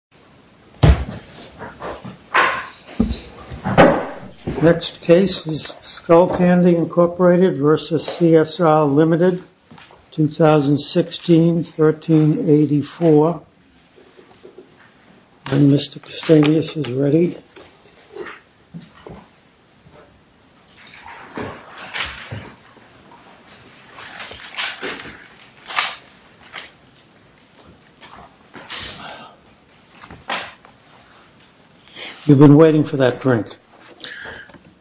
2016-13-84 You've been waiting for that drink.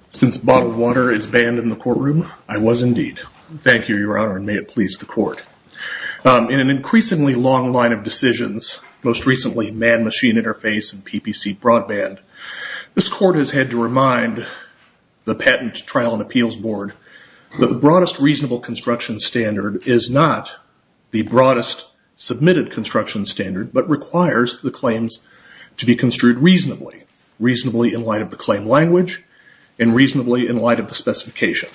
Since bottled water is banned in the courtroom, I was indeed. Thank you, Your Honor, and may it please the Court. In an increasingly long line of decisions, most recently man-machine interface and PPC broadband, this Court has had to remind the Patent, Trial, and Appeals Board that the broadest reasonable construction standard is not the broadest submitted construction standard but requires the claims to be construed reasonably. Reasonably in light of the claim language and reasonably in light of the specification.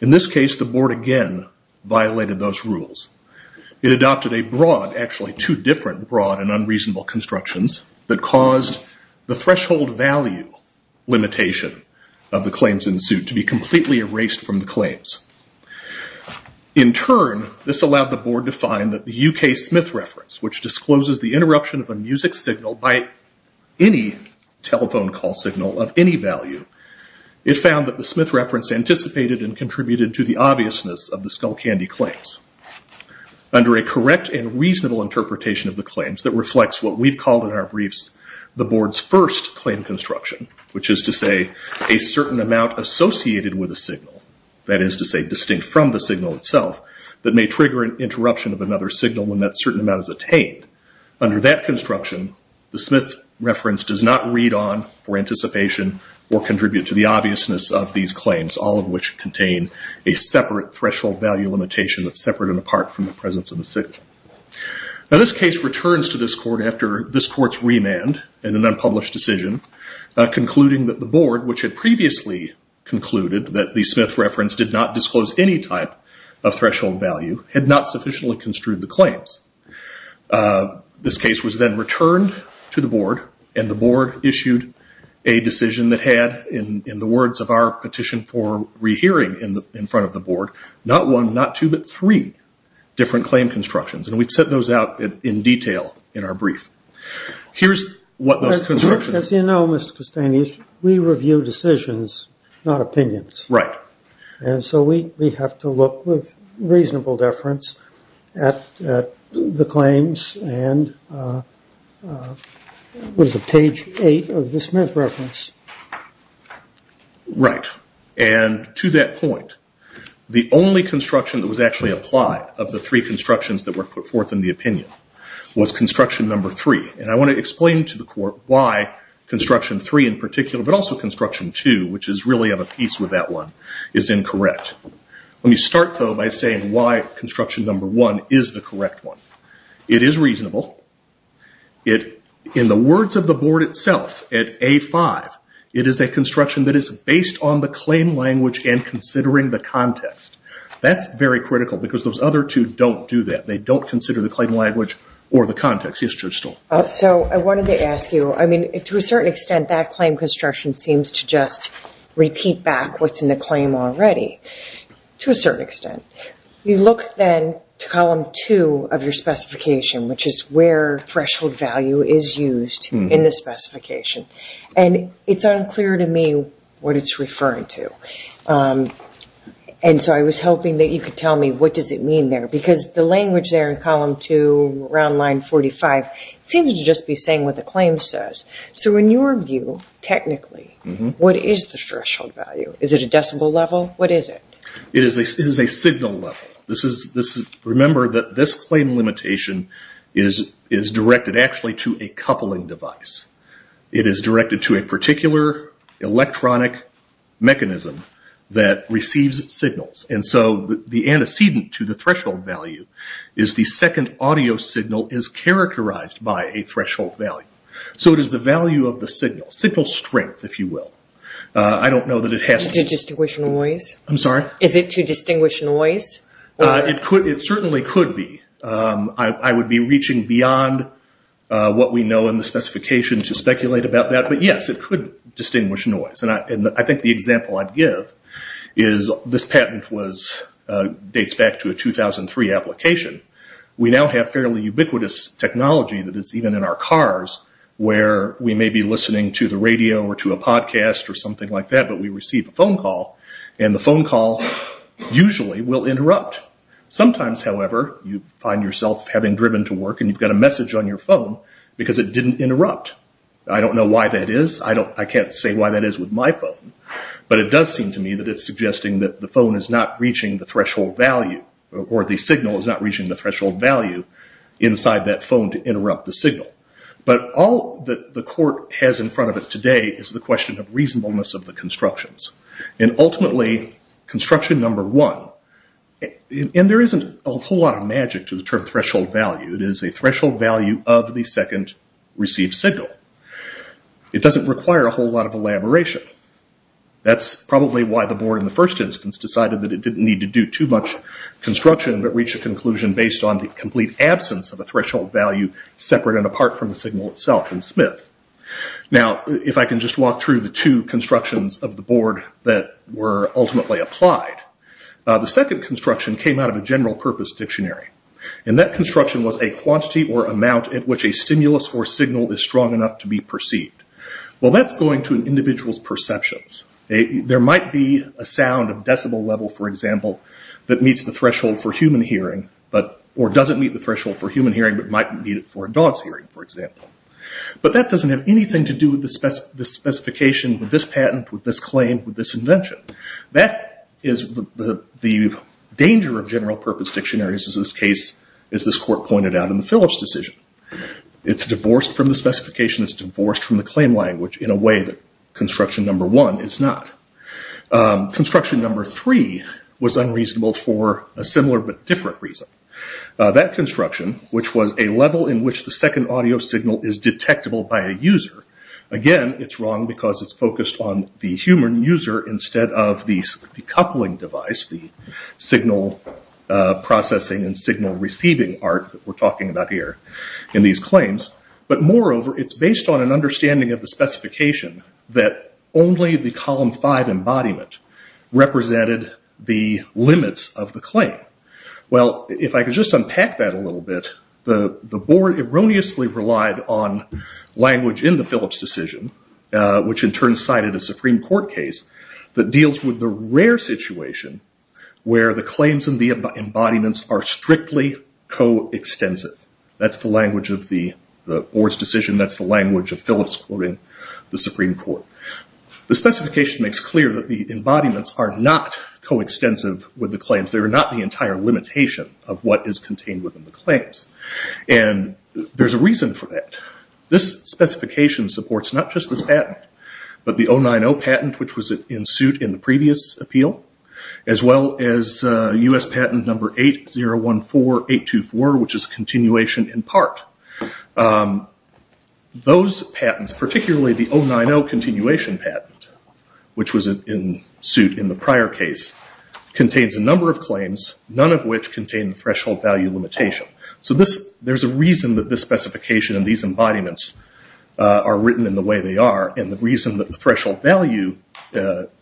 In this case, the Board again violated those rules. It adopted a broad, actually two different broad and unreasonable constructions that caused the threshold value limitation of the claims in suit to be completely erased from the claims. In turn, this allowed the Board to find that the U.K. Smith reference, which discloses the interruption of a music signal by any telephone call signal of any value, it found that the Smith reference anticipated and contributed to the obviousness of the Skullcandy claims. Under a correct and reasonable interpretation of the claims that reflects what we've called in our briefs the Board's first claim construction, which is to say a certain amount associated with a signal, that is to say distinct from the signal itself, that may trigger an interruption of another signal when that certain amount is attained. Under that construction, the Smith reference does not read on for anticipation or contribute to the obviousness of these claims, all of which contain a separate threshold value limitation that's separate and apart from the presence of the city. Now this case returns to this Court after this Court's remand in an unpublished decision concluding that the Board, which had previously concluded that the Smith reference did not disclose any type of threshold value, had not sufficiently construed the claims. This case was then returned to the Board and the Board issued a decision that had, in the words of our petition for rehearing in front of the Board, not one, not two, but three different claim constructions. And we've set those out in detail in our brief. Here's what those constructions... As you know, Mr. Castanis, we review decisions, not opinions. Right. And so we have to look with reasonable deference at the claims and what is it, page eight of the Smith reference? Right. And to that point, the only construction that was actually applied of the three constructions that were put forth in the opinion was construction number three. And I want to explain to the Court why construction three in particular, but also construction two, which is really of a piece with that one, is incorrect. Let me start, though, by saying why construction number one is the correct one. It is reasonable. In the words of the Board itself, at A5, it is a construction that is based on the claim language and considering the context. That's very critical because those other two don't do that. They don't consider the claim language or the context. Yes, Judge Stoll. So I wanted to ask you, I mean, to a certain extent, that claim construction seems to just repeat back what's in the claim already, to a certain extent. You look then to column two of your specification, which is where threshold value is used in the specification, and it's unclear to me what it's referring to. And so I was hoping that you could tell me what does it mean there because the language there in column two, around line 45, seems to just be saying what the claim says. So in your view, technically, what is the threshold value? Is it a decibel level? What is it? It is a signal level. Remember that this claim limitation is directed actually to a coupling device. It is directed to a particular electronic mechanism that receives signals. And so the antecedent to the threshold value is the second audio signal is characterized by a threshold value. So it is the value of the signal, signal strength, if you will. I don't know that it has to be. Is it to distinguish noise? I'm sorry? Is it to distinguish noise? It certainly could be. I would be reaching beyond what we know in the specification to speculate about that. But, yes, it could distinguish noise. And I think the example I'd give is this patent dates back to a 2003 application. We now have fairly ubiquitous technology that is even in our cars where we may be listening to the radio or to a podcast or something like that, but we receive a phone call, and the phone call usually will interrupt. Sometimes, however, you find yourself having driven to work, and you've got a message on your phone because it didn't interrupt. I don't know why that is. I can't say why that is with my phone, but it does seem to me that it's suggesting that the phone is not reaching the threshold value or the signal is not reaching the threshold value inside that phone to interrupt the signal. But all that the court has in front of it today is the question of reasonableness of the constructions. And ultimately, construction number one, and there isn't a whole lot of magic to the term threshold value, it is a threshold value of the second received signal. It doesn't require a whole lot of elaboration. That's probably why the board in the first instance decided that it didn't need to do too much construction but reached a conclusion based on the complete absence of a threshold value separate and apart from the signal itself in Smith. Now, if I can just walk through the two constructions of the board that were ultimately applied. The second construction came out of a general purpose dictionary, and that construction was a quantity or amount at which a stimulus or signal is strong enough to be perceived. Well, that's going to an individual's perceptions. There might be a sound of decibel level, for example, that meets the threshold for human hearing or doesn't meet the threshold for human hearing but might meet it for a dog's hearing, for example. But that doesn't have anything to do with this specification, with this patent, with this claim, with this invention. The danger of general purpose dictionaries is this case, as this court pointed out in the Phillips decision. It's divorced from the specification. It's divorced from the claim language in a way that construction number one is not. Construction number three was unreasonable for a similar but different reason. That construction, which was a level in which the second audio signal is detectable by a user, again, it's wrong because it's focused on the human user instead of the coupling device, the signal processing and signal receiving arc that we're talking about here in these claims. But moreover, it's based on an understanding of the specification that only the column five embodiment represented the limits of the claim. Well, if I could just unpack that a little bit, the board erroneously relied on language in the Phillips decision, which in turn cited a Supreme Court case that deals with the rare situation where the claims and the embodiments are strictly co-extensive. That's the language of the board's decision. That's the language of Phillips quoting the Supreme Court. The specification makes clear that the embodiments are not co-extensive with the claims. They're not the entire limitation of what is contained within the claims. And there's a reason for that. This specification supports not just this patent, but the 090 patent, which was in suit in the previous appeal, as well as U.S. patent number 8014824, which is continuation in part. Those patents, particularly the 090 continuation patent, which was in suit in the prior case, contains a number of claims, none of which contain threshold value limitation. So there's a reason that this specification and these embodiments are certain in the way they are. And the reason that the threshold value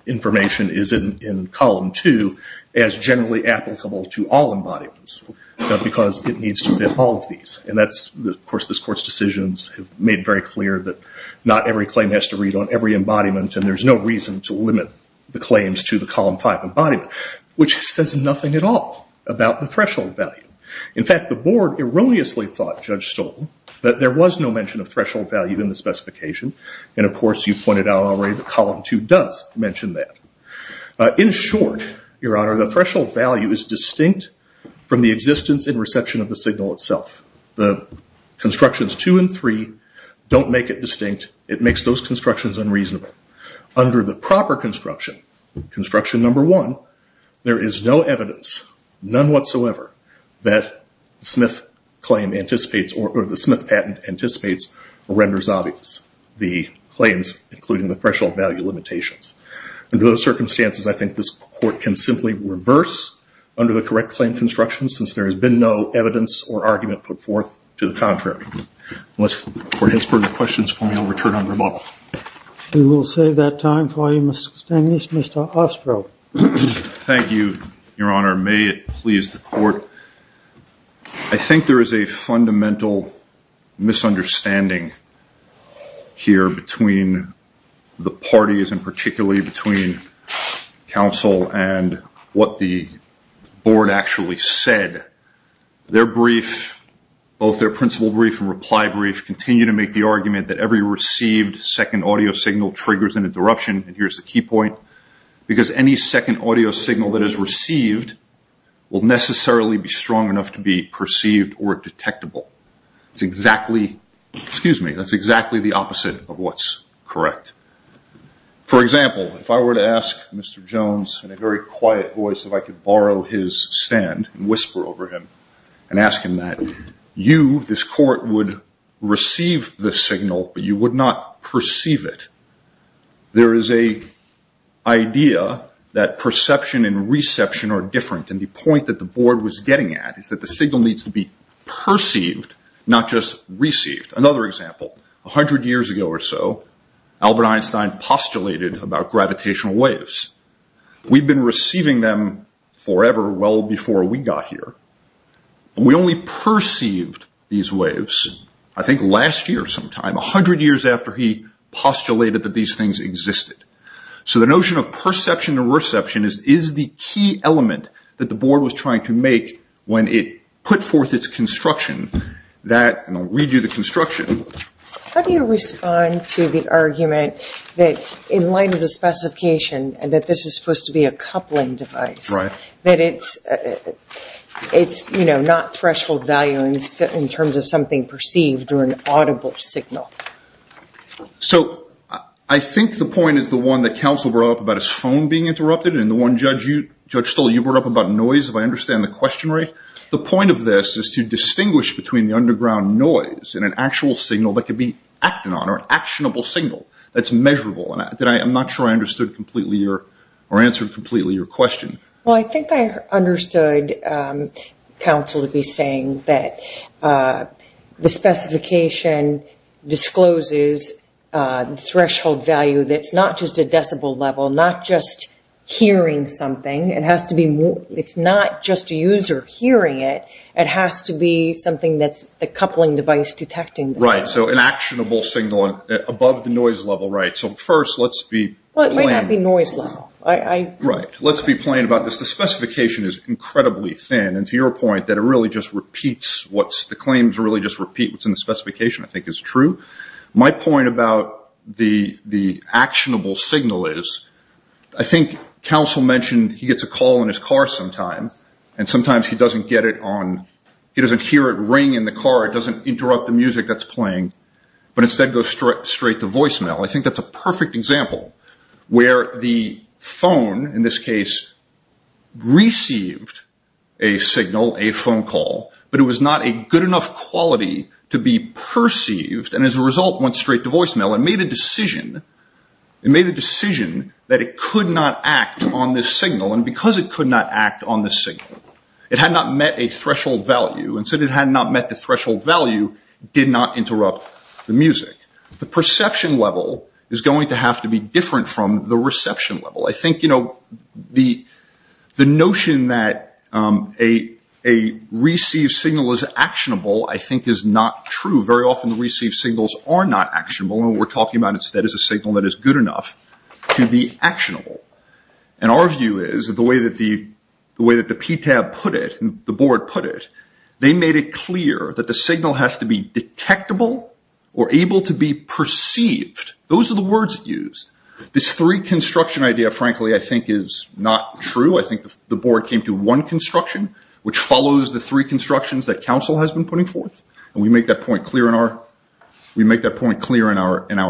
information is in column 2 as generally applicable to all embodiments, not because it needs to fit all of these. And that's, of course, this Court's decisions have made very clear that not every claim has to read on every embodiment, and there's no reason to limit the claims to the column 5 embodiment, which says nothing at all about the threshold value. In fact, the board erroneously thought, Judge Stoll, that there was no mention of threshold value in the specification. And, of course, you pointed out already that column 2 does mention that. In short, Your Honor, the threshold value is distinct from the existence and reception of the signal itself. The constructions 2 and 3 don't make it distinct. It makes those constructions unreasonable. Under the proper construction, construction number 1, there is no evidence, none whatsoever, that the Smith patent anticipates or renders obvious the claims, including the threshold value limitations. Under those circumstances, I think this Court can simply reverse under the correct claim construction since there has been no evidence or argument put forth to the contrary. Unless the Court has further questions for me, I'll return on rebuttal. We will save that time for you, Mr. Stanglis. Mr. Ostro. Thank you, Your Honor. May it please the Court. I think there is a fundamental misunderstanding here between the parties and particularly between counsel and what the board actually said. Their brief, both their principle brief and reply brief, continue to make the argument that every received second audio signal triggers an interruption. And here's the key point. Because any second audio signal that is received will necessarily be strong enough to be perceived or detectable. That's exactly the opposite of what's correct. For example, if I were to ask Mr. Jones in a very quiet voice if I could borrow his stand and whisper over him and ask him that you, this Court, would receive the signal, but you would not perceive it, there is an idea that perception and reception are different. And the point that the board was getting at is that the signal needs to be perceived, not just received. Another example. A hundred years ago or so, Albert Einstein postulated about gravitational waves. We've been receiving them forever, well before we got here. We only perceived these waves, I think last year sometime, a hundred years after he postulated that these things existed. So the notion of perception and reception is the key element that the board was trying to make when it put forth its construction. And I'll read you the construction. How do you respond to the argument that in light of the specification that this is supposed to be a coupling device, that it's not threshold value in terms of something perceived or an audible signal? So I think the point is the one that counsel brought up about his phone being interrupted, and the one Judge Stoll, you brought up about noise, if I understand the question right. The point of this is to distinguish between the underground noise and an actual signal that could be acted on, or an actionable signal that's measurable. I'm not sure I understood completely or answered completely your question. Well, I think I understood counsel to be saying that the specification discloses threshold value that's not just a decibel level, not just hearing something. It's not just a user hearing it. It has to be something that's the coupling device detecting. Right, so an actionable signal above the noise level, right. So first let's be plain. Well, it might not be noise level. Right, let's be plain about this. The specification is incredibly thin, and to your point that it really just repeats what's the claims really just repeat what's in the specification I think is true. My point about the actionable signal is I think counsel mentioned he gets a call in his car sometimes, and sometimes he doesn't get it on, he doesn't hear it ring in the car, it doesn't interrupt the music that's playing, but instead goes straight to voicemail. I think that's a perfect example where the phone, in this case, received a signal, a phone call, but it was not a good enough quality to be perceived, and as a result went straight to voicemail and made a decision. It made a decision that it could not act on this signal, and because it could not act on this signal, it had not met a threshold value. it did not interrupt the music. The perception level is going to have to be different from the reception level. I think, you know, the notion that a received signal is actionable I think is not true. Very often the received signals are not actionable, and what we're talking about instead is a signal that is good enough to be actionable, and our view is that the way that the PTAB put it, the board put it, they made it clear that the signal has to be detectable or able to be perceived. Those are the words used. This three construction idea, frankly, I think is not true. I think the board came to one construction, which follows the three constructions that council has been putting forth, and we make that point clear in our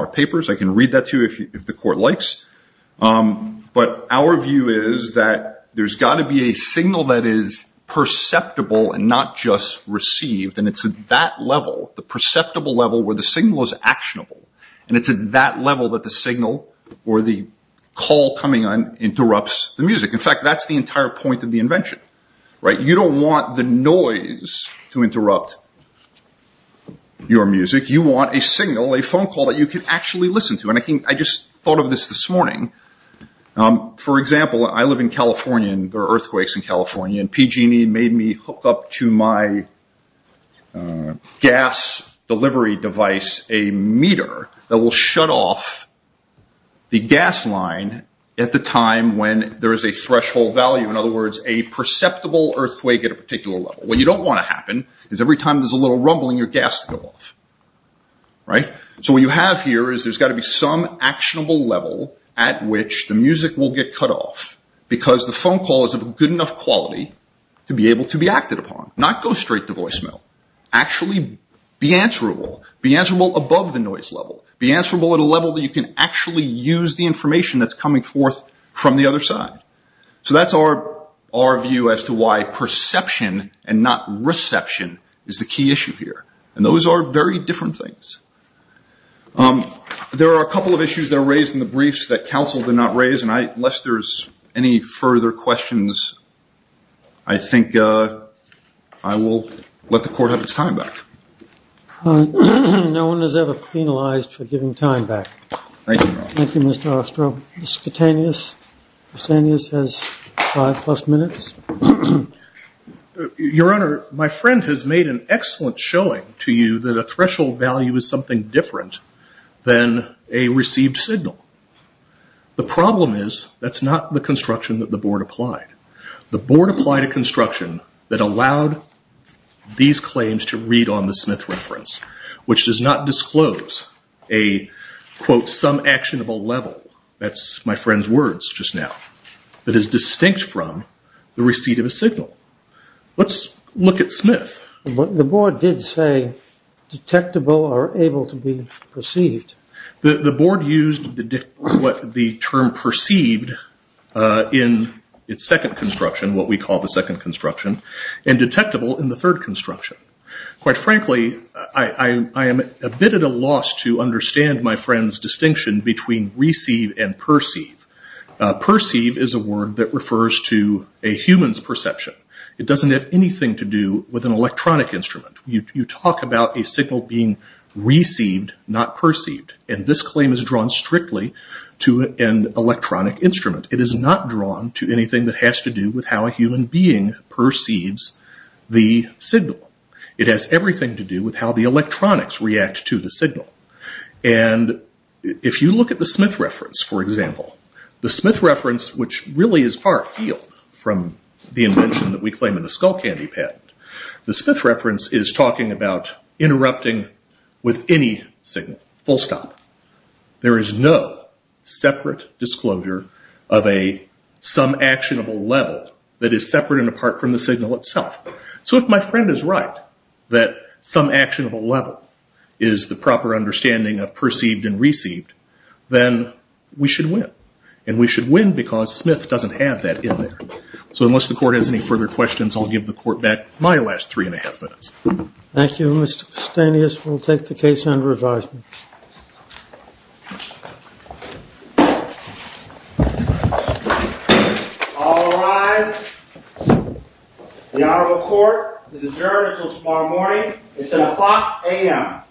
papers. I can read that to you if the court likes, but our view is that there's got to be a signal that is perceptible and not just received, and it's at that level, the perceptible level where the signal is actionable, and it's at that level that the signal or the call coming on interrupts the music. In fact, that's the entire point of the invention. You don't want the noise to interrupt your music. You want a signal, a phone call that you can actually listen to, and I just thought of this this morning. For example, I live in California, and there are earthquakes in California, and PG&E made me hook up to my gas delivery device a meter that will shut off the gas line at the time when there is a threshold value. In other words, a perceptible earthquake at a particular level. What you don't want to happen is every time there's a little rumbling, your gas will go off. So what you have here is there's got to be some actionable level at which the music will get cut off because the phone call is of good enough quality to be able to be acted upon, not go straight to voicemail. Actually be answerable. Be answerable above the noise level. Be answerable at a level that you can actually use the information that's coming forth from the other side. So that's our view as to why perception and not reception is the key issue here, and those are very different things. There are a couple of issues that are raised in the briefs that counsel did not raise, and unless there's any further questions, I think I will let the court have its time back. All right. No one is ever penalized for giving time back. Thank you, Your Honor. Thank you, Mr. Ostro. Mr. Koutanias? Mr. Koutanias has five-plus minutes. Your Honor, my friend has made an excellent showing to you that a threshold value is something different than a received signal. The problem is that's not the construction that the Board applied. The Board applied a construction that allowed these claims to read on the Smith reference, which does not disclose a, quote, some actionable level. That's my friend's words just now. It is distinct from the receipt of a signal. Let's look at Smith. The Board did say detectable or able to be perceived. The Board used the term perceived in its second construction, what we call the second construction, and detectable in the third construction. Quite frankly, I am a bit at a loss to understand my friend's distinction between receive and perceive. Perceive is a word that refers to a human's perception. It doesn't have anything to do with an electronic instrument. You talk about a signal being received, not perceived, and this claim is drawn strictly to an electronic instrument. It is not drawn to anything that has to do with how a human being perceives the signal. It has everything to do with how the electronics react to the signal. And if you look at the Smith reference, for example, the Smith reference, which really is far afield from the invention that we claim in the Skullcandy patent, the Smith reference is talking about interrupting with any signal, full stop. There is no separate disclosure of a some actionable level that is separate and apart from the signal itself. So if my friend is right that some actionable level is the proper understanding of perceived and received, then we should win. And we should win because Smith doesn't have that in there. So unless the court has any further questions, I'll give the court back my last three and a half minutes. Thank you, Mr. Stanius. We'll take the case under advisement. All rise. The Honorable Court is adjourned until tomorrow morning. It's at o'clock a.m.